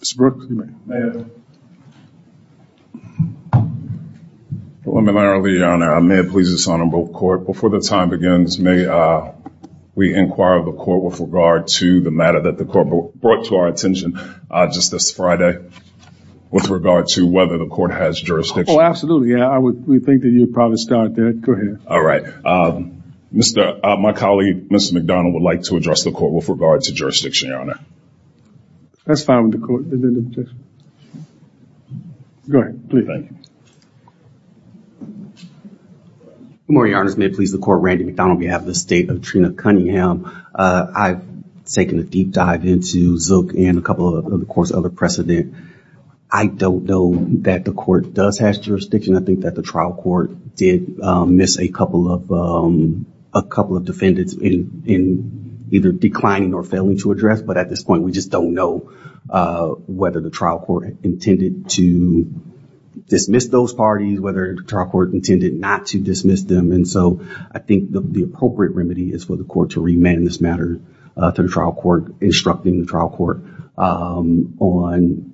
Mr. Brooks, you may have it. Preliminarily, Your Honor, I may please dishonor both courts. Before the time begins, may we inquire of the court with regard to the matter that the court brought to our attention just this Friday with regard to whether the court has jurisdiction? Oh, absolutely. We think that you'd probably start there. Go ahead. All right. My colleague, Mr. McDonald, would like to address the court with regard to jurisdiction, Your Honor. That's fine with the court. Go ahead. Please. Thank you. Good morning, Your Honor. This may please the court. Randy McDonald on behalf of the State of Trina Cunningham. I've taken a deep dive into Zook and a couple of the court's other precedent. I don't know that the court does have jurisdiction. I think that the trial court did miss a couple of defendants in either declining or failing to address. But at this point, we just don't know whether the trial court intended to dismiss those parties, whether the trial court intended not to dismiss them. And so I think the appropriate remedy is for the court to remand this matter to the trial court, instructing the trial court on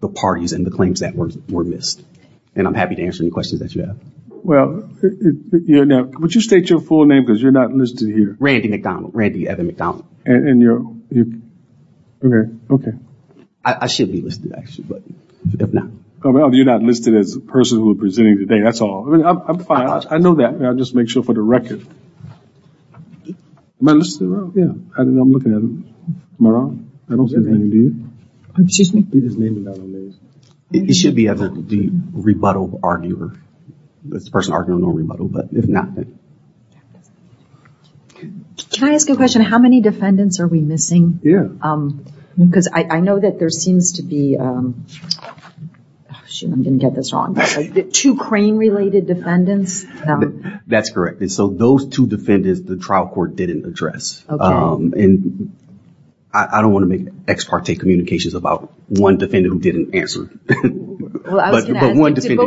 the parties and the claims that were missed. And I'm happy to answer any questions that you have. Well, would you state your full name because you're not listed here. Randy McDonald. Randy Evan McDonald. And you're? Okay. I should be listed, actually, but if not. You're not listed as a person who is presenting today. That's all. I'm fine. I know that. I'll just make sure for the record. Am I listed? Yeah. I'm looking at him. Am I wrong? I don't see his name, do you? Excuse me? His name is not on there. He should be at the rebuttal arguer. That's the person arguing on rebuttal, but if not. Can I ask a question? How many defendants are we missing? Yeah. Because I know that there seems to be. I'm going to get this wrong. Two crane related defendants. That's correct. And so those two defendants, the trial court didn't address. I don't want to make ex parte communications about one defendant who didn't answer. Well, I was going to ask you, did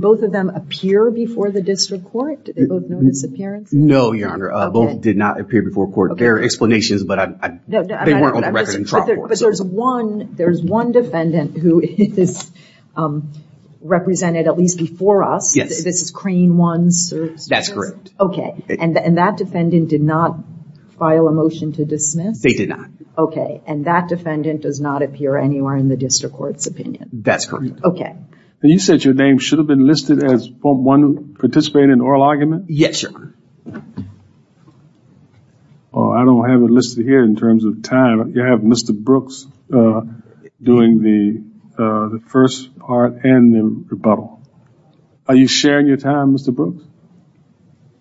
both of them appear before the district court? Did they both know this appearance? No, Your Honor. Both did not appear before court. There are explanations, but they weren't on the record in trial court. But there's one defendant who is represented at least before us. Yes. This is crane one. That's correct. Okay. And that defendant did not file a motion to dismiss? They did not. Okay. And that defendant does not appear anywhere in the district court's opinion. That's correct. Okay. You said your name should have been listed as one participating in oral argument? Yes, Your Honor. No, I don't have it listed here in terms of time. You have Mr. Brooks doing the first part and the rebuttal. Are you sharing your time, Mr. Brooks?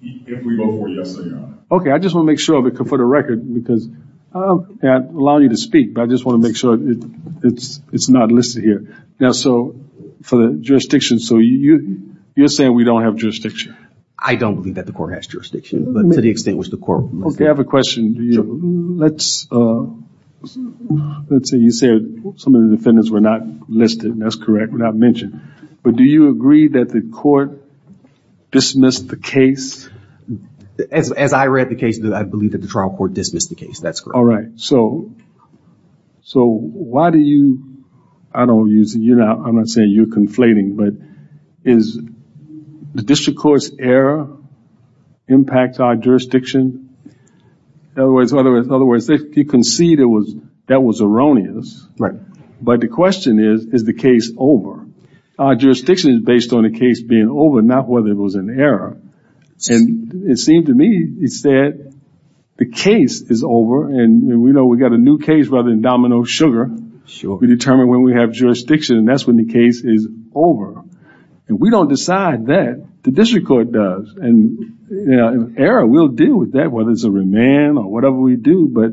If we both were, yes, Your Honor. Okay. I just want to make sure for the record because I'll allow you to speak, but I just want to make sure it's not listed here. Now, so for the jurisdiction, so you're saying we don't have jurisdiction? I don't believe that the court has jurisdiction, but to the extent that the court listed it. Okay. I have a question. Let's say you said some of the defendants were not listed. That's correct. Were not mentioned. But do you agree that the court dismissed the case? As I read the case, I believe that the trial court dismissed the case. That's correct. All right. So why do you, I'm not saying you're conflating, but is the district court's error impact our jurisdiction? In other words, you concede that was erroneous. Right. But the question is, is the case over? Our jurisdiction is based on the case being over, not whether it was an error. And it seemed to me you said the case is over, and we know we've got a new case rather than domino sugar. Sure. We determine when we have jurisdiction, and that's when the case is over. And we don't decide that. The district court does. And error, we'll deal with that, whether it's a remand or whatever we do. But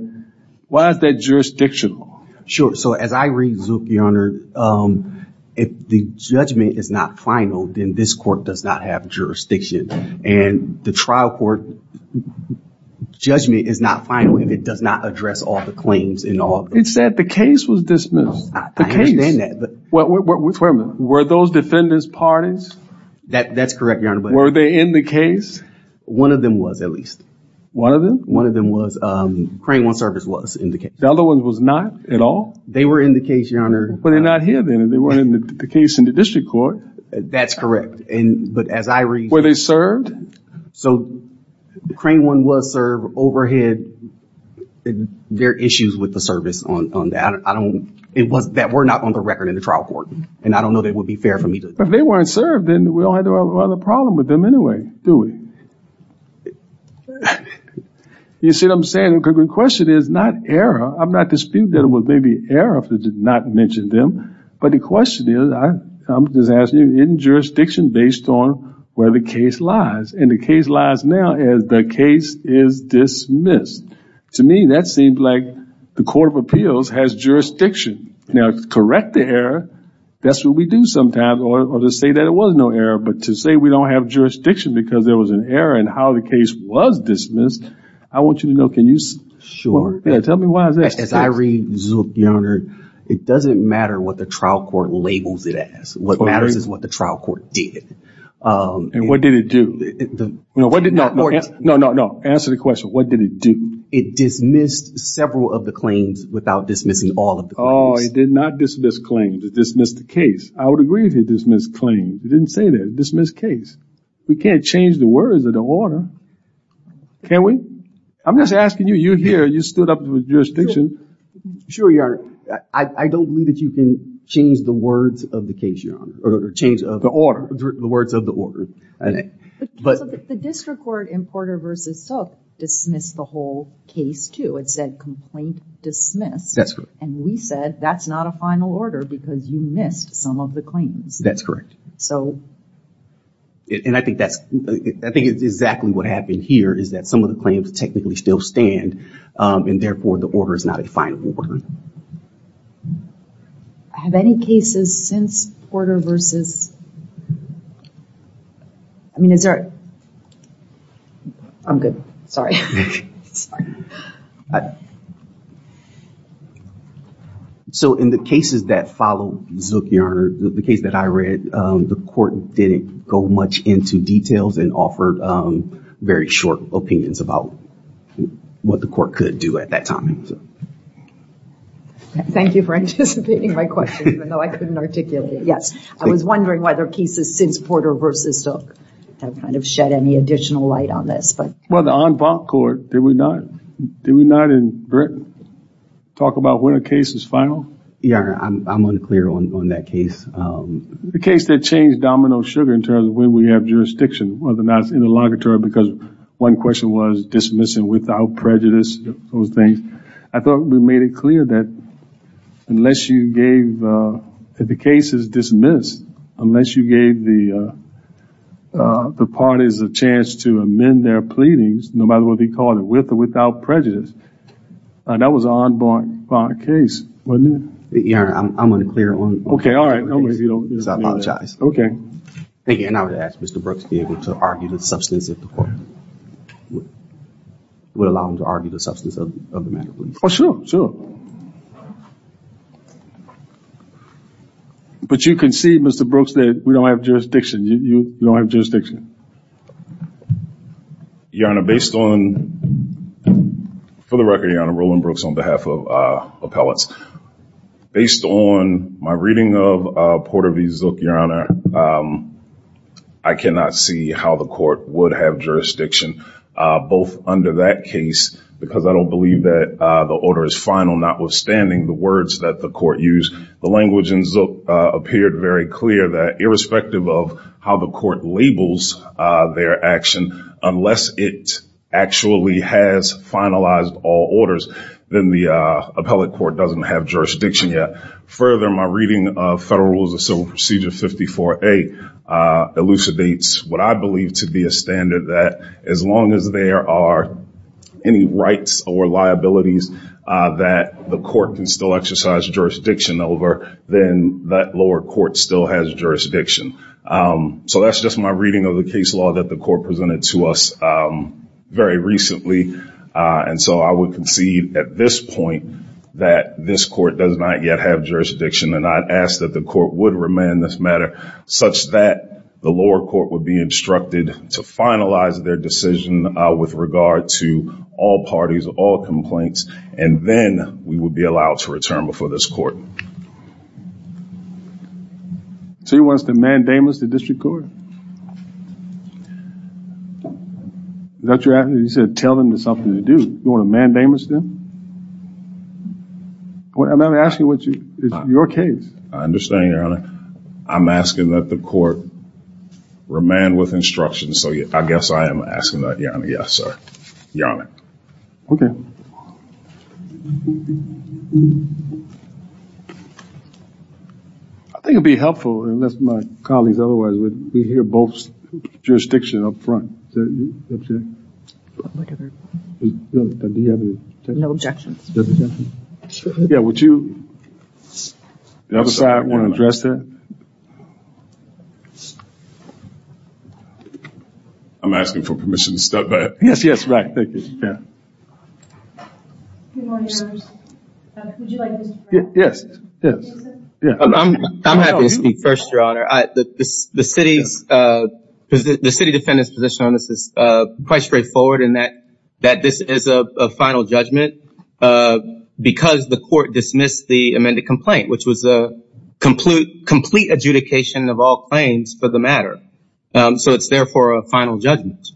why is that jurisdictional? Sure. So as I read, Zook, Your Honor, if the judgment is not final, then this court does not have jurisdiction. And the trial court judgment is not final, and it does not address all the claims. It said the case was dismissed. I understand that. Wait a minute. Were those defendants parties? That's correct, Your Honor. Were they in the case? One of them was, at least. One of them? One of them was. Crane One Service was in the case. The other one was not at all? They were in the case, Your Honor. Well, they're not here then. They weren't in the case in the district court. That's correct. But as I read. Were they served? So Crane One was served overhead. There are issues with the service on that. It was that we're not on the record in the trial court. And I don't know that it would be fair for me to. If they weren't served, then we don't have a problem with them anyway, do we? You see what I'm saying? Because the question is not error. I'm not disputing that it was maybe error if it did not mention them. But the question is, I'm just asking you, isn't jurisdiction based on where the case lies? And the case lies now as the case is dismissed. To me, that seems like the Court of Appeals has jurisdiction. Now, to correct the error, that's what we do sometimes, or to say that it was no error. But to say we don't have jurisdiction because there was an error in how the case was dismissed, I want you to know. Sure. Tell me why is that? As I read Zook, Your Honor, it doesn't matter what the trial court labels it as. What matters is what the trial court did. And what did it do? No, answer the question. What did it do? It dismissed several of the claims without dismissing all of the claims. Oh, it did not dismiss claims. It dismissed the case. I would agree if it dismissed claims. It didn't say that. It dismissed case. We can't change the words of the order, can we? I'm just asking you. You're here. You stood up to the jurisdiction. Sure, Your Honor. I don't believe that you can change the words of the case, Your Honor. The order. The words of the order. The district court in Porter v. Zook dismissed the whole case, too. It said complaint dismissed. That's correct. And we said that's not a final order because you missed some of the claims. That's correct. And I think that's exactly what happened here, is that some of the claims technically still stand, and therefore the order is not a final order. Have any cases since Porter v. I mean, is there? I'm good. So in the cases that follow Zook, Your Honor, the case that I read, the court didn't go much into details and offered very short opinions about what the court could do at that time. Thank you for anticipating my question, even though I couldn't articulate it. Yes. I was wondering whether cases since Porter v. Zook have kind of shed any additional light on this. Well, the en banc court, did we not? Did we not in Britain talk about when a case is final? Your Honor, I'm unclear on that case. The case that changed domino sugar in terms of when we have jurisdiction, whether or not it's interlocutory, because one question was dismissing without prejudice, those things. I thought we made it clear that unless you gave the cases dismissed, unless you gave the parties a chance to amend their pleadings, no matter what they called it, with or without prejudice, that was an en banc case, wasn't it? Your Honor, I'm unclear on that case. Okay, all right. I apologize. Thank you. And I would ask Mr. Brooks to be able to argue the substance of the court, would allow him to argue the substance of the matter, please. Oh, sure, sure. But you can see, Mr. Brooks, that we don't have jurisdiction. You don't have jurisdiction. Your Honor, based on, for the record, Your Honor, Roland Brooks on behalf of appellates, based on my reading of Porter v. Zook, Your Honor, I cannot see how the court would have jurisdiction, both under that case, because I don't believe that the order is final, notwithstanding the words that the court used. The language in Zook appeared very clear that, from the perspective of how the court labels their action, unless it actually has finalized all orders, then the appellate court doesn't have jurisdiction yet. Further, my reading of Federal Rules of Civil Procedure 54A elucidates what I believe to be a standard that as long as there are any rights or liabilities that the court can still exercise jurisdiction over, then that lower court still has jurisdiction. So that's just my reading of the case law that the court presented to us very recently. And so I would concede at this point that this court does not yet have jurisdiction, and I'd ask that the court would remand this matter such that the lower court would be instructed to finalize their decision with regard to all parties, all complaints, and then we would be allowed to return before this court. So you want us to mandamus the district court? Is that what you're asking? You said tell them there's something to do. You want to mandamus them? I'm asking what is your case? I understand, Your Honor. I'm asking that the court remand with instruction, so I guess I am asking that, Your Honor. Yes, sir. Your Honor. Okay. I think it would be helpful, unless my colleagues otherwise would, we hear both jurisdictions up front. Do you have any objections? No objections. Yeah, would you, the other side, want to address that? I'm asking for permission to step back. Yes, yes, right. Thank you. Yes, yes. I'm happy to speak first, Your Honor. The city defendant's position on this is quite straightforward in that this is a final judgment because the court dismissed the amended complaint, which was a complete adjudication of all claims for the matter. So it's therefore a final judgment.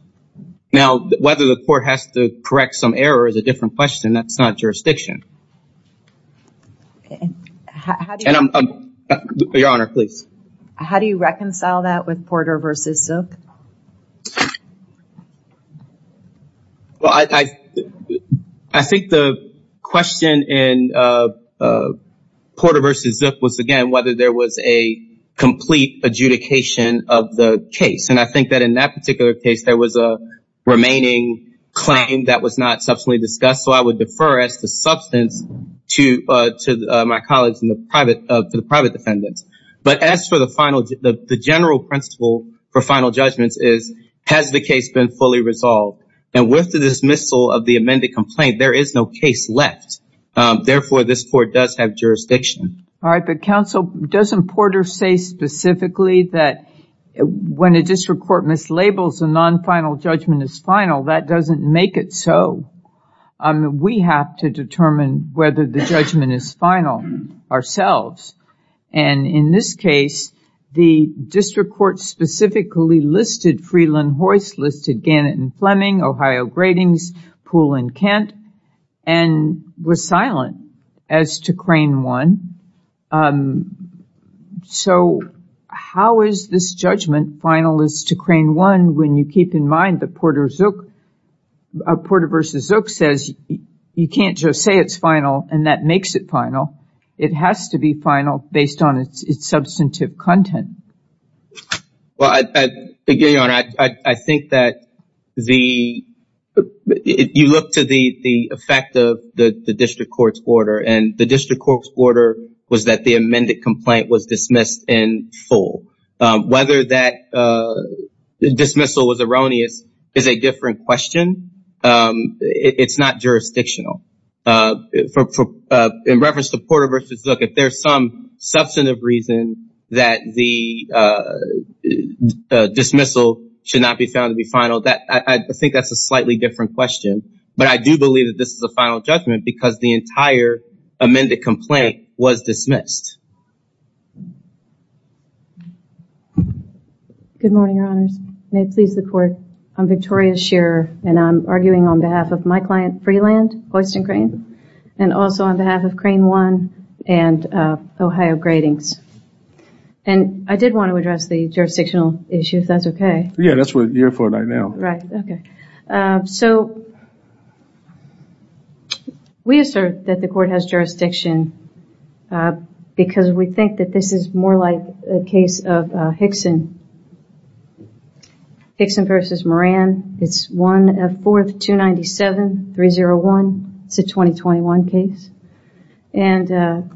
Now, whether the court has to correct some error is a different question. That's not jurisdiction. Your Honor, please. How do you reconcile that with Porter v. Zook? Well, I think the question in Porter v. Zook was, again, whether there was a complete adjudication of the case. And I think that in that particular case, there was a remaining claim that was not subsequently discussed. So I would defer as to substance to my colleagues and the private defendants. But as for the general principle for final judgments is, has the case been fully resolved? And with the dismissal of the amended complaint, there is no case left. Therefore, this court does have jurisdiction. All right. But counsel, doesn't Porter say specifically that when a district court mislabels a non-final judgment as final, that doesn't make it so? We have to determine whether the judgment is final ourselves. And in this case, the district court specifically listed Freeland-Hoyst, listed Gannett and Fleming, Ohio Gratings, Poole and Kent, and was silent as to Crane 1. So how is this judgment final as to Crane 1 when you keep in mind that Porter v. Zook says you can't just say it's final and that makes it final. It has to be final based on its substantive content. Well, again, Your Honor, I think that the – you look to the effect of the district court's order, and the district court's order was that the amended complaint was dismissed in full. Whether that dismissal was erroneous is a different question. It's not jurisdictional. In reference to Porter v. Zook, if there's some substantive reason that the dismissal should not be found to be final, I think that's a slightly different question. But I do believe that this is a final judgment because the entire amended complaint was dismissed. Good morning, Your Honors. May it please the court. I'm Victoria Shearer, and I'm arguing on behalf of my client, Freeland, Boyston Crane, and also on behalf of Crane 1 and Ohio Gratings. And I did want to address the jurisdictional issue, if that's okay. Yeah, that's what you're for right now. Right. Okay. So we assert that the court has jurisdiction because we think that this is more like a case of Hickson v. Moran. It's 1F4297301. It's a 2021 case. And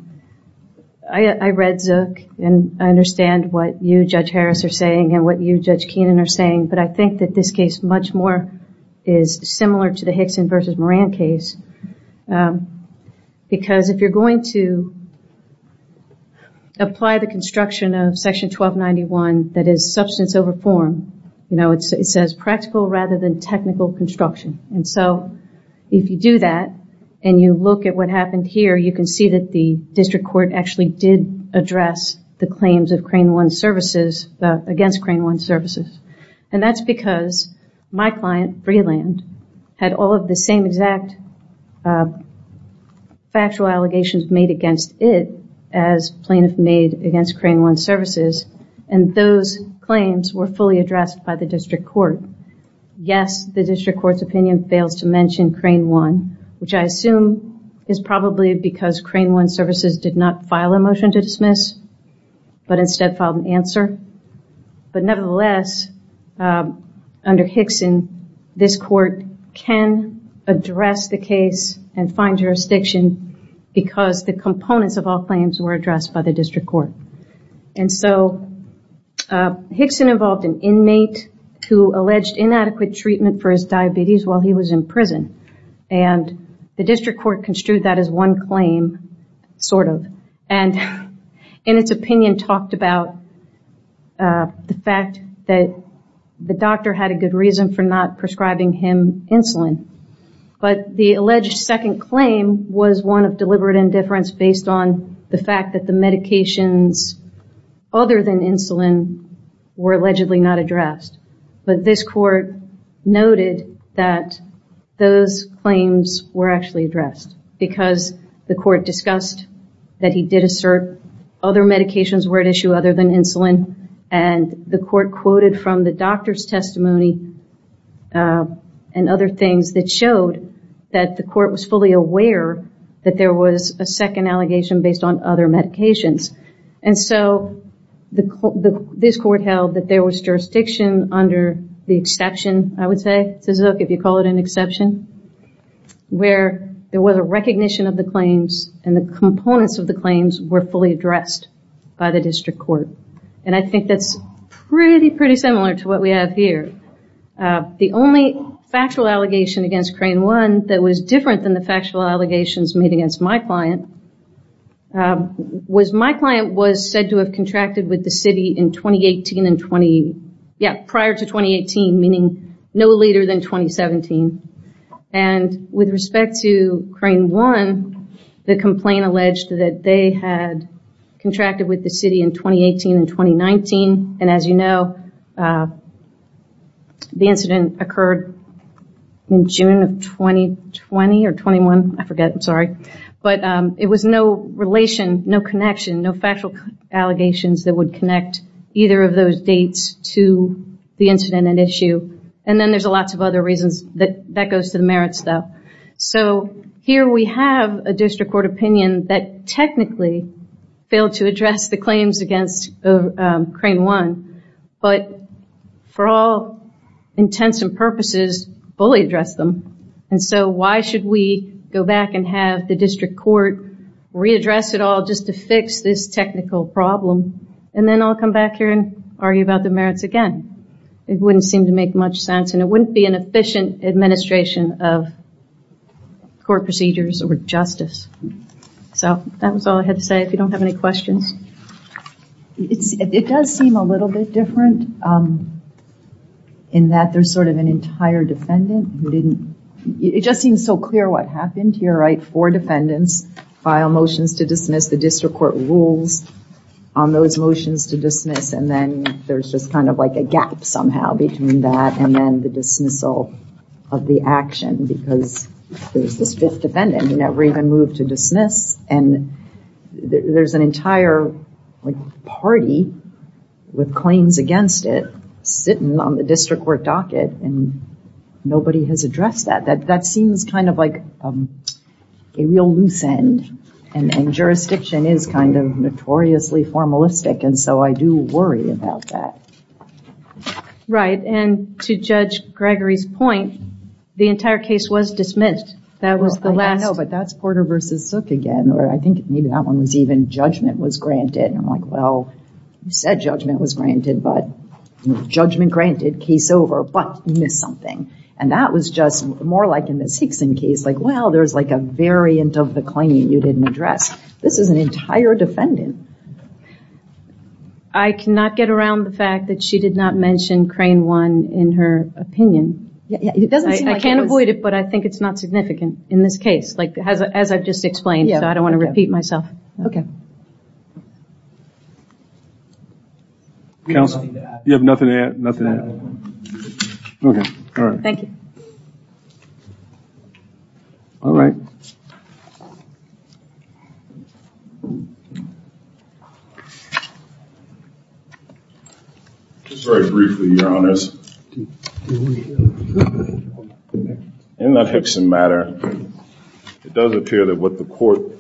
I read Zook, and I understand what you, Judge Harris, are saying and what you, Judge Keenan, are saying, but I think that this case much more is similar to the Hickson v. Moran case because if you're going to apply the construction of Section 1291, that is substance over form, you know, it says practical rather than technical construction. And so if you do that, and you look at what happened here, you can see that the district court actually did address the claims of Crane 1 services against Crane 1 services. And that's because my client, Freeland, had all of the same exact factual allegations made against it as plaintiffs made against Crane 1 services. And those claims were fully addressed by the district court. Yes, the district court's opinion fails to mention Crane 1, which I assume is probably because Crane 1 services did not file a motion to dismiss, but instead filed an answer. But nevertheless, under Hickson, this court can address the case and find jurisdiction because the components of all claims were addressed by the district court. And so Hickson involved an inmate who alleged inadequate treatment for his diabetes while he was in prison. And the district court construed that as one claim, sort of, and in its opinion talked about the fact that the doctor had a good reason for not prescribing him insulin. But the alleged second claim was one of deliberate indifference based on the fact that the medications other than insulin were allegedly not addressed. But this court noted that those claims were actually addressed because the court discussed that he did assert other medications were at issue other than insulin, and the court quoted from the doctor's testimony and other things that showed that the court was fully aware that there was a second allegation based on other medications. And so this court held that there was jurisdiction under the exception, I would say, if you call it an exception, where there was a recognition of the claims and the components of the claims were fully addressed by the district court. And I think that's pretty, pretty similar to what we have here. The only factual allegation against Crane 1 that was different than the factual allegations made against my client was my client was said to have contracted with the city in 2018 and 20, yeah, prior to 2018, meaning no later than 2017. And with respect to Crane 1, the complaint alleged that they had contracted with the city in 2018 and 2019, and as you know, the incident occurred in June of 2020 or 21, I forget, I'm sorry. But it was no relation, no connection, no factual allegations that would connect either of those dates to the incident at issue. And then there's lots of other reasons that goes to the merits, though. So here we have a district court opinion that technically failed to address the claims against Crane 1, but for all intents and purposes, fully addressed them. And so why should we go back and have the district court readdress it all just to fix this technical problem? And then I'll come back here and argue about the merits again. It wouldn't seem to make much sense, and it wouldn't be an efficient administration of court procedures or justice. So that was all I had to say. If you don't have any questions. It does seem a little bit different in that there's sort of an entire defendant who didn't, it just seems so clear what happened here, right? Four defendants file motions to dismiss. The district court rules on those motions to dismiss, and then there's just kind of like a gap somehow between that and then the dismissal of the action because there's this fifth defendant who never even moved to dismiss, and there's an entire party with claims against it sitting on the district court docket, and nobody has addressed that. That seems kind of like a real loose end, and jurisdiction is kind of notoriously formalistic, and so I do worry about that. Right, and to Judge Gregory's point, the entire case was dismissed. That was the last. I know, but that's Porter v. Sook again, or I think maybe that one was even judgment was granted, and I'm like, well, you said judgment was granted, but judgment granted, case over, but you missed something. And that was just more like in this Hickson case, like, well, there's like a variant of the claim that you didn't address. This is an entire defendant. I cannot get around the fact that she did not mention Crane 1 in her opinion. I can't avoid it, but I think it's not significant in this case, like as I've just explained, so I don't want to repeat myself. Okay. Counsel, you have nothing to add? Nothing to add. Okay. All right. Thank you. All right. Just very briefly, Your Honors, in that Hickson matter, it does appear that what the court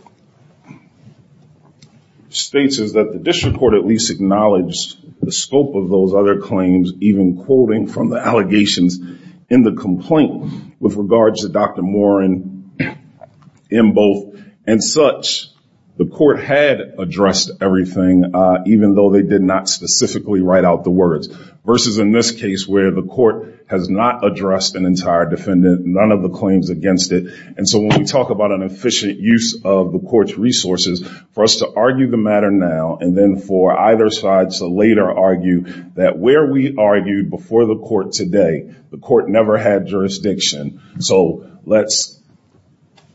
states is that the district court at least acknowledged the scope of those other claims, even quoting from the allegations in the complaint with regards to Dr. Warren in both, and such. The court had addressed everything, even though they did not specifically write out the words, versus in this case where the court has not addressed an entire defendant, none of the claims against it. And so when we talk about an efficient use of the court's resources, for us to argue the matter now and then for either side to later argue that where we argued before the court today, the court never had jurisdiction. So let's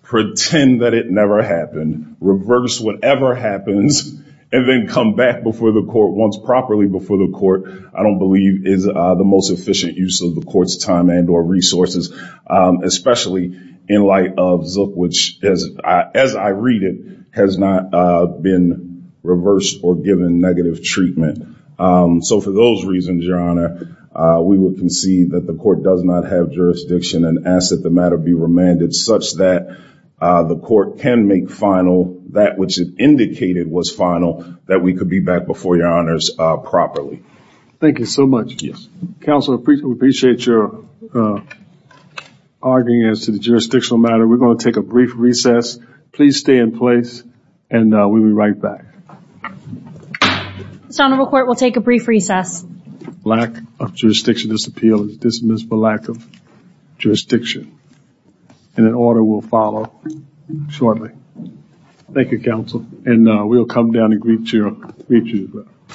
pretend that it never happened, reverse whatever happens and then come back before the court once properly before the court, I don't believe is the most efficient use of the court's time and or resources, especially in light of Zook, which as I read it has not been reversed or given negative treatment. So for those reasons, Your Honor, we would concede that the court does not have jurisdiction and ask that the matter be remanded such that the court can make final that which it indicated was final, that we could be back before Your Honors properly. Thank you so much. Yes. Counselor, appreciate your arguing as to the jurisdictional matter. We're going to take a brief recess. Please stay in place and we'll be right back. Son of a court. We'll take a brief recess. Lack of jurisdiction, this appeal is dismissed for lack of jurisdiction and an order will follow shortly. Thank you, counsel. And we'll come down and greet you.